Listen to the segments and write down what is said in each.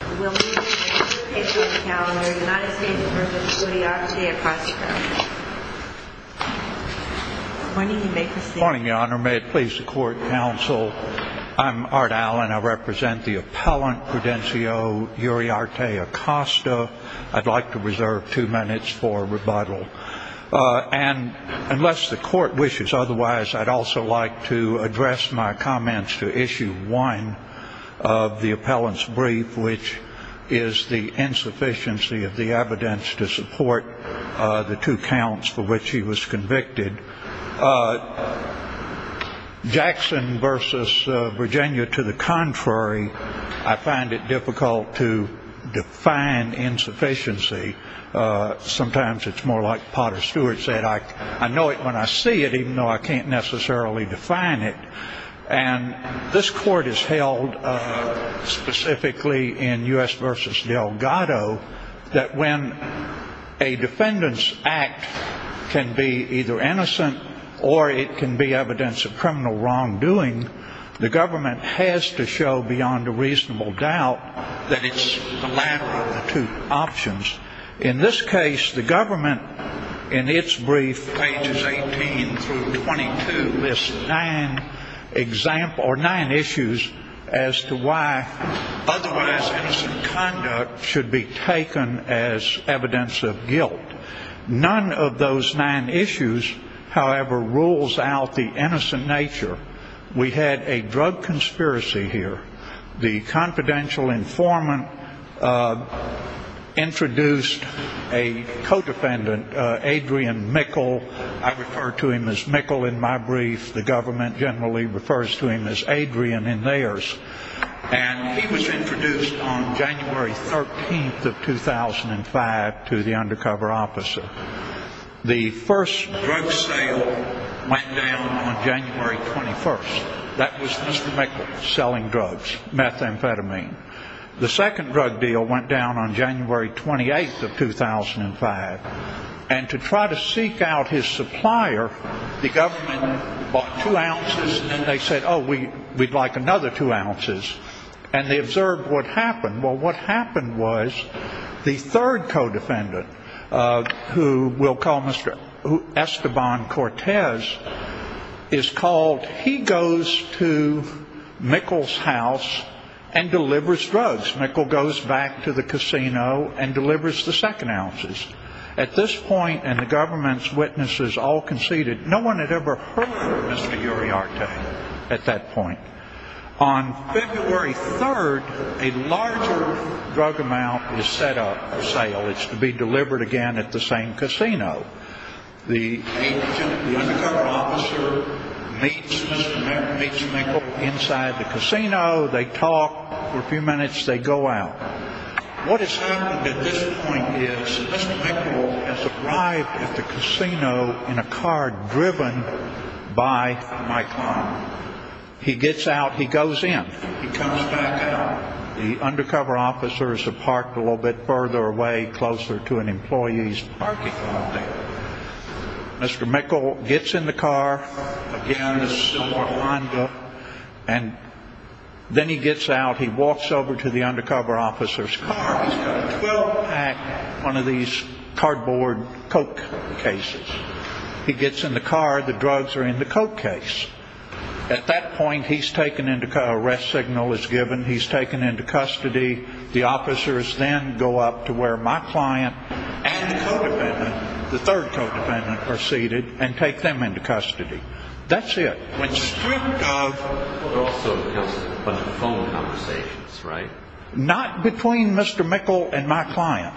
Good morning, your honor. May it please the court, counsel. I'm Art Allen. I represent the appellant Prudencio Uriarte-Acosta. I'd like to reserve two minutes for rebuttal. And unless the court wishes otherwise, I'd also like to address my comments to issue one of the appellant's brief, which is the insufficiency of the evidence to support the two counts for which he was convicted. Jackson v. Virginia, to the contrary, I find it difficult to define insufficiency. Sometimes it's more like Potter Stewart said, I know it when I see it, even though I can't necessarily define it. And this court has held specifically in U.S. v. Delgado that when a defendant's act can be either innocent or it can be evidence of criminal wrongdoing, the government has to show beyond a reasonable doubt that it's the latter of the two options. In this case, the government, in its brief, pages 18 through 22, lists nine issues as to why otherwise innocent conduct should be taken as evidence of guilt. None of those nine issues, however, rules out the innocent nature. We had a drug conspiracy here. The confidential informant introduced a co-defendant, Adrian Mickle. I refer to him as Mickle in my brief. The government generally refers to him as Adrian in theirs. And he was introduced on January 13th of 2005 to the undercover officer. The first drug sale went down on January 21st. That was Mr. Mickle selling drugs, methamphetamine. The second drug deal went down on January 28th of 2005. And to try to seek out his supplier, the government bought two ounces and they said, oh, we'd like another two ounces. And they observed what happened. Well, what happened was the third co-defendant, who we'll call Esteban Cortez, is called. He goes to Mickle's house and delivers drugs. Mickle goes back to the casino and delivers the second ounces. At this point, and the government's witnesses all conceded, no one had ever heard of Mr. Uriarte at that point. On February 3rd, a larger drug amount is set up for sale. It's to be delivered again at the same casino. The undercover officer meets Mr. Mickle inside the casino. They talk for a few minutes. They go out. What has happened at this point is Mr. Mickle has arrived at the casino in a car driven by Mike Long. He gets out. He goes in. He comes back out. The undercover officers are parked a little bit further away, closer to an employee's parking lot there. Mr. Mickle gets in the car, again in a similar lineup. And then he gets out. He walks over to the undercover officer's car. He's got a 12-pack, one of these cardboard coke cases. He gets in the car. The drugs are in the coke case. At that point, he's taken into custody. The officers then go up to where my client and the co-defendant, the third co-defendant, are seated and take them into custody. That's it. There were also a bunch of phone conversations, right? Not between Mr. Mickle and my client.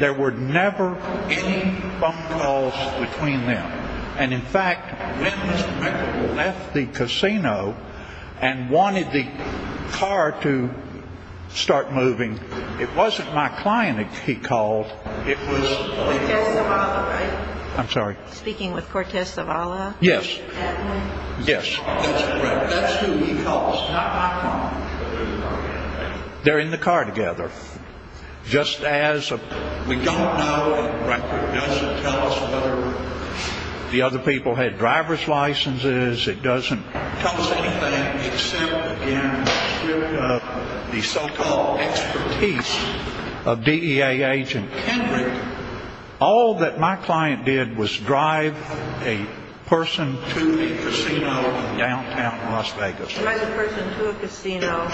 There were never any phone calls between them. And in fact, when Mr. Mickle left the casino and wanted the car to start moving, it wasn't my client he called. Speaking with Cortez Zavala, right? I'm sorry? Speaking with Cortez Zavala? Yes. That man? Yes. That's who he calls, not my client. They're in the car together, just as a... We don't know a record. It doesn't tell us whether the other people had driver's licenses. It doesn't tell us anything except, again, the so-called expertise of DEA agent Henry. All that my client did was drive a person to a casino in downtown Las Vegas. Drive a person to a casino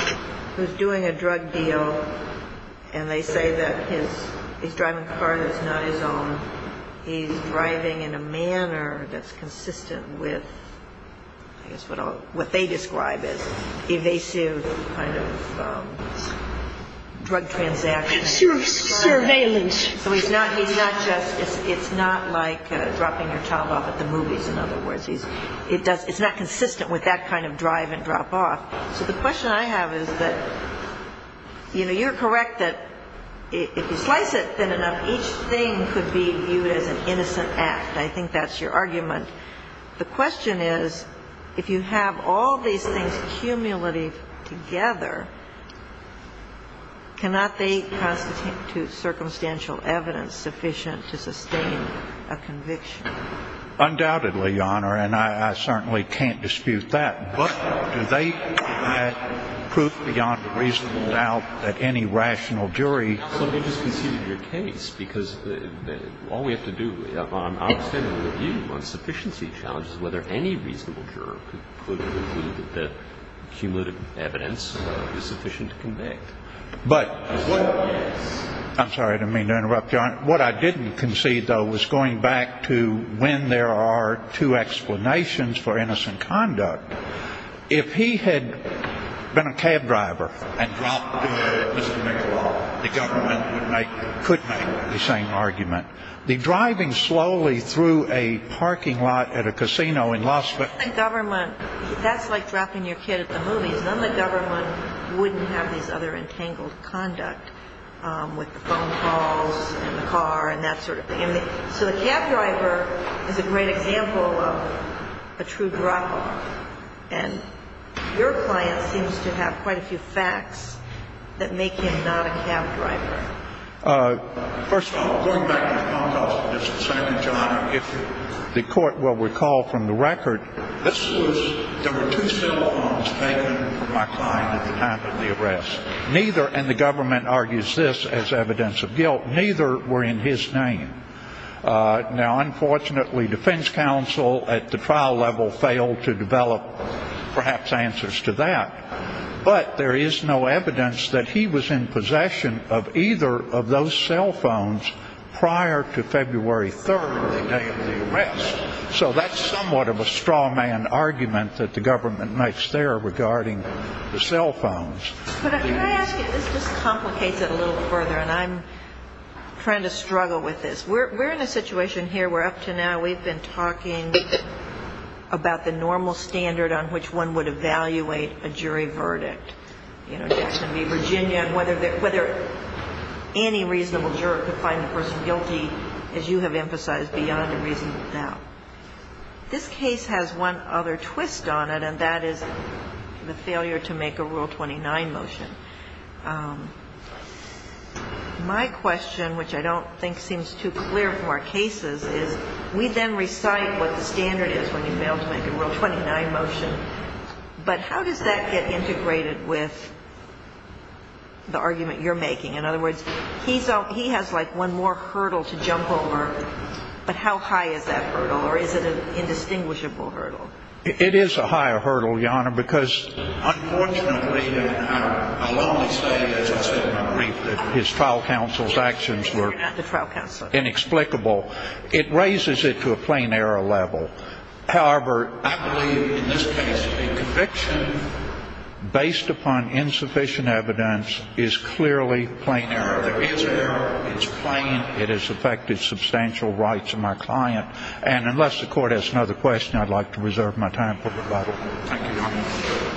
who's doing a drug deal, and they say that he's driving a car that's not his own. He's driving in a manner that's consistent with, I guess, what they describe as evasive kind of drug transactions. Surveillance. So he's not just – it's not like dropping your child off at the movies, in other words. It's not consistent with that kind of drive and drop off. So the question I have is that, you know, you're correct that if you slice it thin enough, each thing could be viewed as an innocent act. I think that's your argument. The question is, if you have all these things cumulative together, cannot they constitute circumstantial evidence sufficient to sustain a conviction? Undoubtedly, Your Honor, and I certainly can't dispute that. But do they have proof beyond a reasonable doubt that any rational jury... ...whether any reasonable juror could conclude that the cumulative evidence is sufficient to convict? But... Yes. I'm sorry, I didn't mean to interrupt you, Your Honor. What I didn't concede, though, was going back to when there are two explanations for innocent conduct. If he had been a cab driver and dropped Mr. Mitchell off, the government would make – could make the same argument. The driving slowly through a parking lot at a casino in Las Vegas... None of the government – that's like dropping your kid at the movies. None of the government wouldn't have these other entangled conduct with the phone calls and the car and that sort of thing. So the cab driver is a great example of a true drop off. And your client seems to have quite a few facts that make him not a cab driver. First of all, going back to the phone calls with Mr. Sanford, Your Honor, if the court will recall from the record... This was – there were two cell phones taken from my client at the time of the arrest. Neither – and the government argues this as evidence of guilt – neither were in his name. Now, unfortunately, defense counsel at the trial level failed to develop perhaps answers to that. But there is no evidence that he was in possession of either of those cell phones prior to February 3rd, the day of the arrest. So that's somewhat of a straw man argument that the government makes there regarding the cell phones. But can I ask you – this just complicates it a little further, and I'm trying to struggle with this. We're in a situation here where up to now we've been talking about the normal standard on which one would evaluate a jury verdict. You know, that's going to be Virginia and whether any reasonable juror could find the person guilty, as you have emphasized, beyond a reasonable doubt. This case has one other twist on it, and that is the failure to make a Rule 29 motion. My question, which I don't think seems too clear from our cases, is we then recite what the standard is when you fail to make a Rule 29 motion. But how does that get integrated with the argument you're making? In other words, he has like one more hurdle to jump over, but how high is that hurdle, or is it an indistinguishable hurdle? It is a higher hurdle, Your Honor, because unfortunately, I'll only say, as I said in my brief, that his trial counsel's actions were inexplicable. It raises it to a plain error level. However, I believe in this case a conviction based upon insufficient evidence is clearly plain error. There is error. It's plain. It has affected substantial rights of my client. And unless the Court has another question, I'd like to reserve my time for rebuttal. Thank you, Your Honor.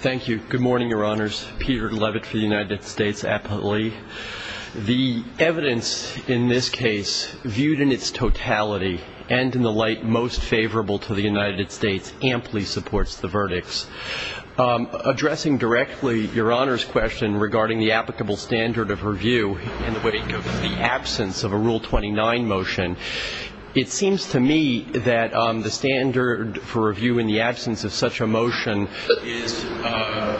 Thank you. Good morning, Your Honors. Peter Levitt for the United States Appellee. The evidence in this case, viewed in its totality and in the light most favorable to the United States, amply supports the verdicts. Addressing directly Your Honor's question regarding the applicable standard of review in the wake of the absence of a Rule 29 motion, it seems to me that the standard for review in the absence of such a motion is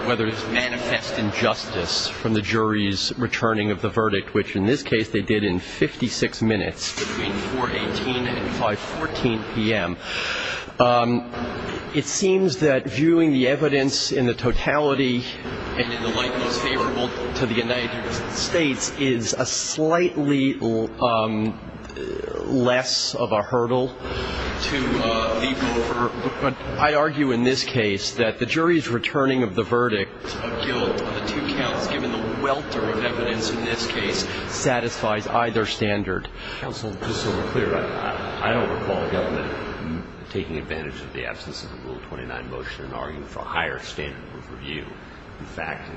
whether it's manifest injustice from the jury's returning of the verdict, which in this case they did in 56 minutes between 4.18 and 5.14 p.m. It seems that viewing the evidence in the totality and in the light most favorable to the United States is a slightly less of a hurdle to leap over. But I argue in this case that the jury's returning of the verdict of guilt on the two counts, given the welter of evidence in this case, satisfies either standard. Counsel, just so we're clear, I don't recall the government taking advantage of the absence of a Rule 29 motion and arguing for a higher standard of review. In fact,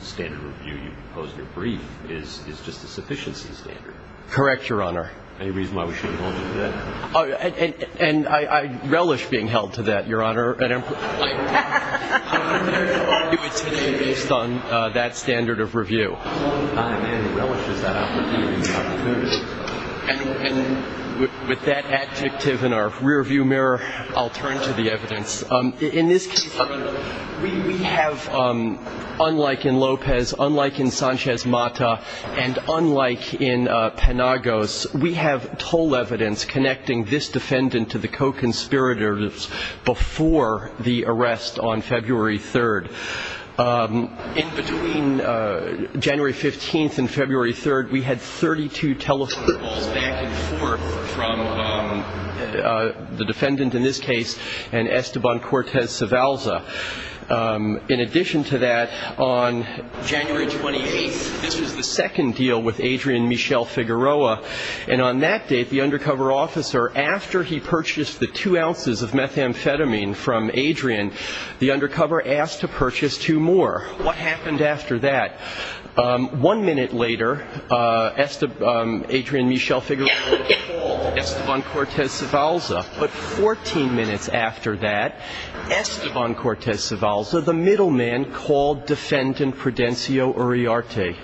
the standard review you proposed in your brief is just a sufficiency standard. Correct, Your Honor. Any reason why we shouldn't hold you to that? And I relish being held to that, Your Honor, based on that standard of review. I relish that opportunity. And with that adjective in our rearview mirror, I'll turn to the evidence. In this case, we have, unlike in Lopez, unlike in Sanchez-Mata, and unlike in Penagos, we have toll evidence connecting this defendant to the co-conspirators before the arrest on February 3rd. In between January 15th and February 3rd, we had 32 telephone calls back and forth from the defendant in this case and Esteban Cortez-Savalza. In addition to that, on January 28th, this was the second deal with Adrian Michel Figueroa. And on that date, the undercover officer, after he purchased the two ounces of methamphetamine from Adrian, the undercover asked to purchase two more. What happened after that? One minute later, Adrian Michel Figueroa called Esteban Cortez-Savalza. But 14 minutes after that, Esteban Cortez-Savalza, the middleman, called defendant Prudencio Uriarte.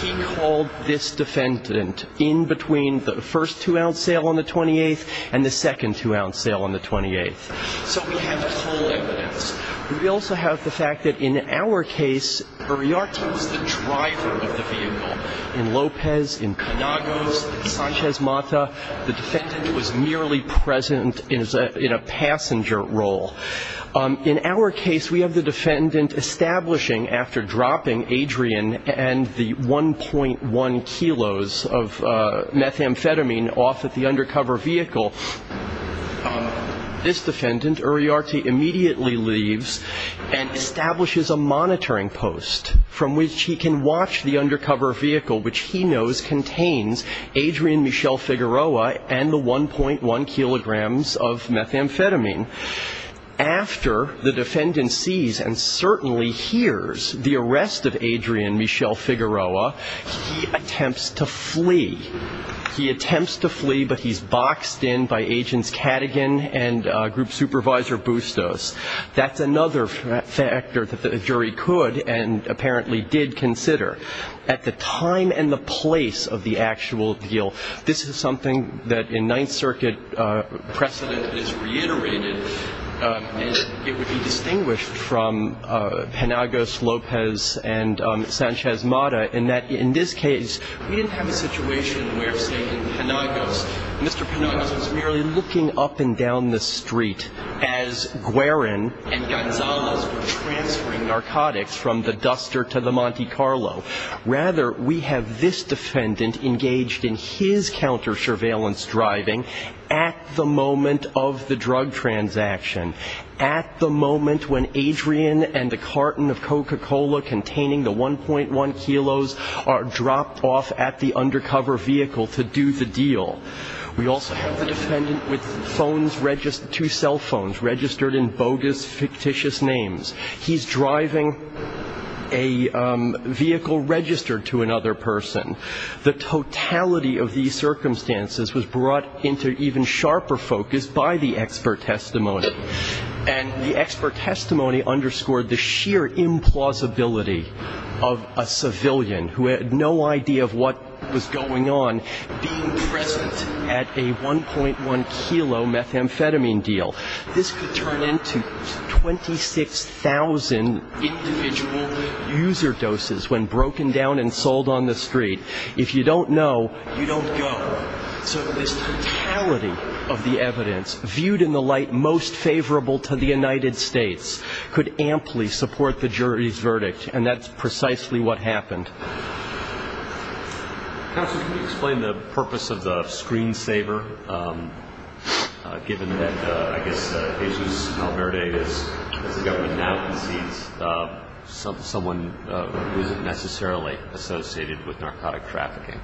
He called this defendant in between the first two-ounce sale on the 28th and the second two-ounce sale on the 28th. So we have toll evidence. We also have the fact that in our case, Uriarte was the driver of the vehicle. In Lopez, in Penagos, in Sanchez-Mata, the defendant was merely present in a passenger role. In our case, we have the defendant establishing, after dropping Adrian and the 1.1 kilos of methamphetamine off at the undercover vehicle, this defendant, Uriarte, immediately leaves and establishes a monitoring post from which he can watch the undercover vehicle, which he knows contains Adrian Michel Figueroa and the 1.1 kilograms of methamphetamine. After the defendant sees and certainly hears the arrest of Adrian Michel Figueroa, he attempts to flee. He attempts to flee, but he's boxed in by Agents Cadigan and Group Supervisor Bustos. That's another factor that the jury could and apparently did consider. At the time and the place of the actual deal, this is something that in Ninth Circuit precedent is reiterated, and it would be distinguished from Penagos, Lopez, and Sanchez-Mata, in that in this case, we didn't have a situation where, say, in Penagos, Mr. Penagos was merely looking up and down the street as Guerin and Gonzalez were transferring narcotics from the Duster to the Monte Carlo. Rather, we have this defendant engaged in his counter-surveillance driving at the moment of the drug transaction, at the moment when Adrian and the carton of Coca-Cola containing the 1.1 kilos are dropped off at the undercover vehicle to do the deal. We also have the defendant with two cell phones registered in bogus, fictitious names. He's driving a vehicle registered to another person. The totality of these circumstances was brought into even sharper focus by the expert testimony. And the expert testimony underscored the sheer implausibility of a civilian who had no idea of what was going on being present at a 1.1 kilo methamphetamine deal. This could turn into 26,000 individual user doses when broken down and sold on the street. If you don't know, you don't go. So this totality of the evidence, viewed in the light most favorable to the United States, could amply support the jury's verdict, and that's precisely what happened. Counsel, can you explain the purpose of the screensaver, given that I guess Jesus Calverde, as the government now concedes, someone who isn't necessarily associated with narcotic trafficking?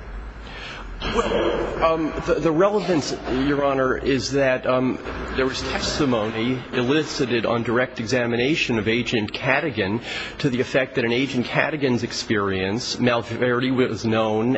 Well, the relevance, Your Honor, is that there was testimony elicited on direct examination of Agent Cadigan to the effect that in Agent Cadigan's experience, Malverde was known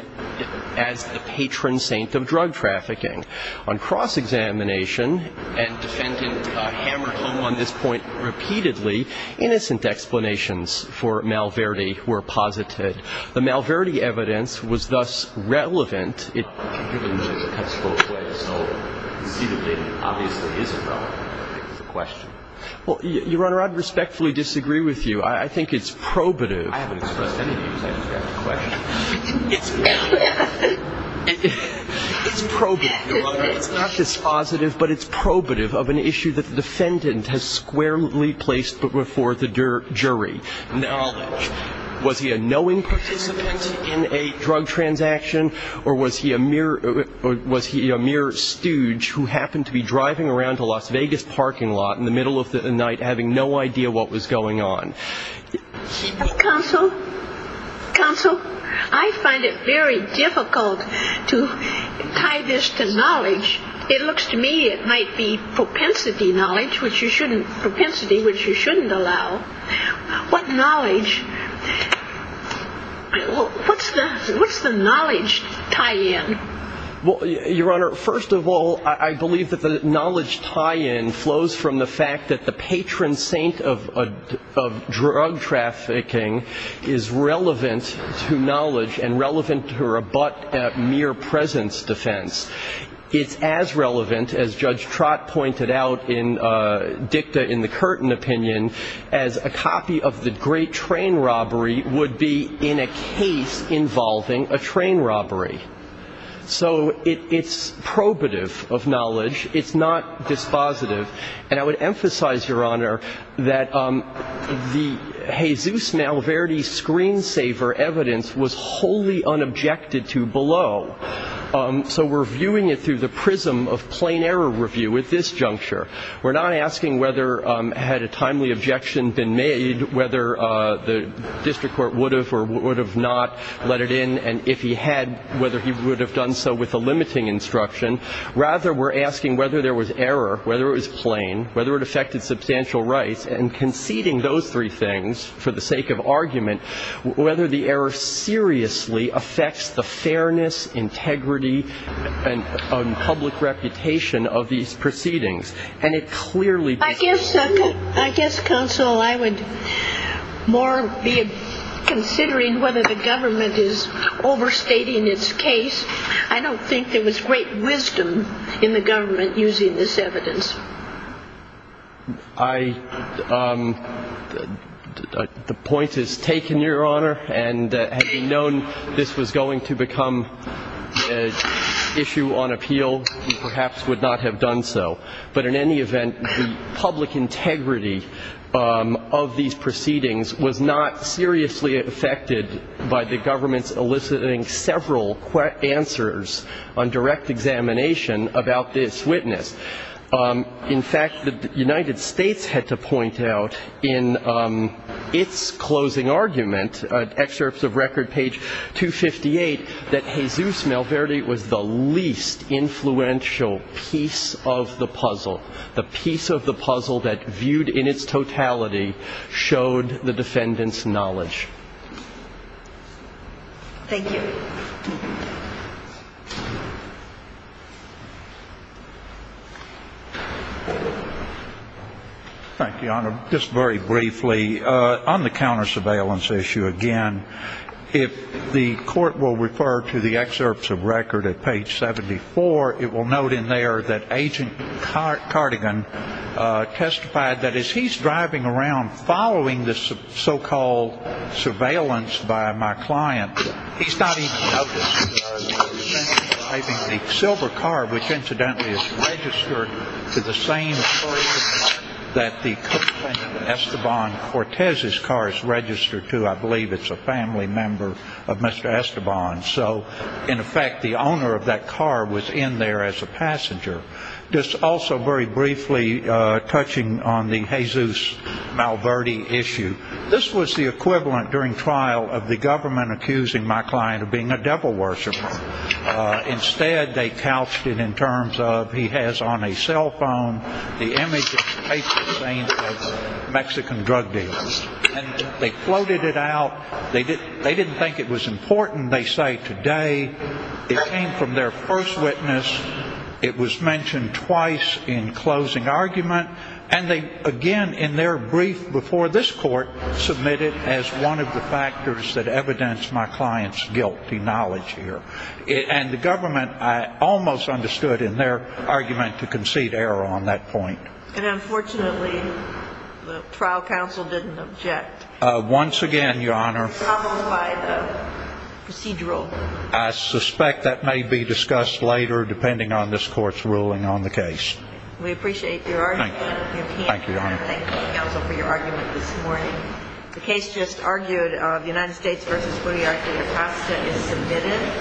as the patron saint of drug trafficking. On cross-examination, and defendant hammered home on this point repeatedly, innocent explanations for Malverde were posited. The Malverde evidence was thus relevant. Given that it's a textbook way to sell, you see that it obviously is a problem. I think that's the question. Well, Your Honor, I'd respectfully disagree with you. I think it's probative. I haven't expressed any views. I just got the question. It's probative, Your Honor. It's not dispositive, but it's probative of an issue that the defendant has squarely placed before the jury. Now, was he a knowing participant in a drug transaction, or was he a mere stooge who happened to be driving around to a Las Vegas parking lot in the middle of the night, having no idea what was going on? Counsel, counsel, I find it very difficult to tie this to knowledge. It looks to me it might be propensity knowledge, which you shouldn't allow. What knowledge? What's the knowledge tie-in? Well, Your Honor, first of all, I believe that the knowledge tie-in flows from the fact that the patron saint of drug trafficking is relevant to knowledge and relevant to a mere presence defense. It's as relevant, as Judge Trott pointed out in dicta in the Curtin opinion, as a copy of the great train robbery would be in a case involving a train robbery. So it's probative of knowledge. It's not dispositive. And I would emphasize, Your Honor, that the Jesus Malverde screensaver evidence was wholly unobjected to below. So we're viewing it through the prism of plain error review at this juncture. We're not asking whether had a timely objection been made, whether the district court would have or would have not let it in, and if he had, whether he would have done so with a limiting instruction. Rather, we're asking whether there was error, whether it was plain, whether it affected substantial rights, and conceding those three things, for the sake of argument, whether the error seriously affects the fairness, integrity, and public reputation of these proceedings. And it clearly does. I guess, Counsel, I would more be considering whether the government is overstating its case. I don't think there was great wisdom in the government using this evidence. I ‑‑ the point is taken, Your Honor. And had we known this was going to become an issue on appeal, we perhaps would not have done so. But in any event, the public integrity of these proceedings was not seriously affected by the government's eliciting several answers on direct examination about this witness. In fact, the United States had to point out in its closing argument, excerpts of record page 258, that Jesus Malverde was the least influential piece of the puzzle. The piece of the puzzle that viewed in its totality showed the defendant's knowledge. Thank you. Thank you, Your Honor. Just very briefly, on the counter‑surveillance issue again, if the court will refer to the excerpts of record at page 74, it will note in there that Agent Cardigan testified that as he's driving around following the so‑called surveillance by my client, he's not even noticing that he's driving a silver car, which incidentally is registered to the same person that the co‑defendant Esteban Cortez's car is registered to. I believe it's a family member of Mr. Esteban. So, in effect, the owner of that car was in there as a passenger. Just also very briefly, touching on the Jesus Malverde issue, this was the equivalent during trial of the government accusing my client of being a devil worshiper. Instead, they couched it in terms of he has on a cell phone the image of a Mexican drug dealer. And they floated it out. They didn't think it was important. They say today it came from their first witness. It was mentioned twice in closing argument. And they, again, in their brief before this court, submitted as one of the factors that evidenced my client's guilty knowledge here. And the government, I almost understood in their argument to concede error on that point. And, unfortunately, the trial counsel didn't object. Once again, Your Honor, I suspect that may be discussed later, depending on this court's ruling on the case. We appreciate your argument. Thank you. Thank you, Your Honor. Thank you, counsel, for your argument this morning. The case just argued of United States v. Puyallup-Costa is submitted.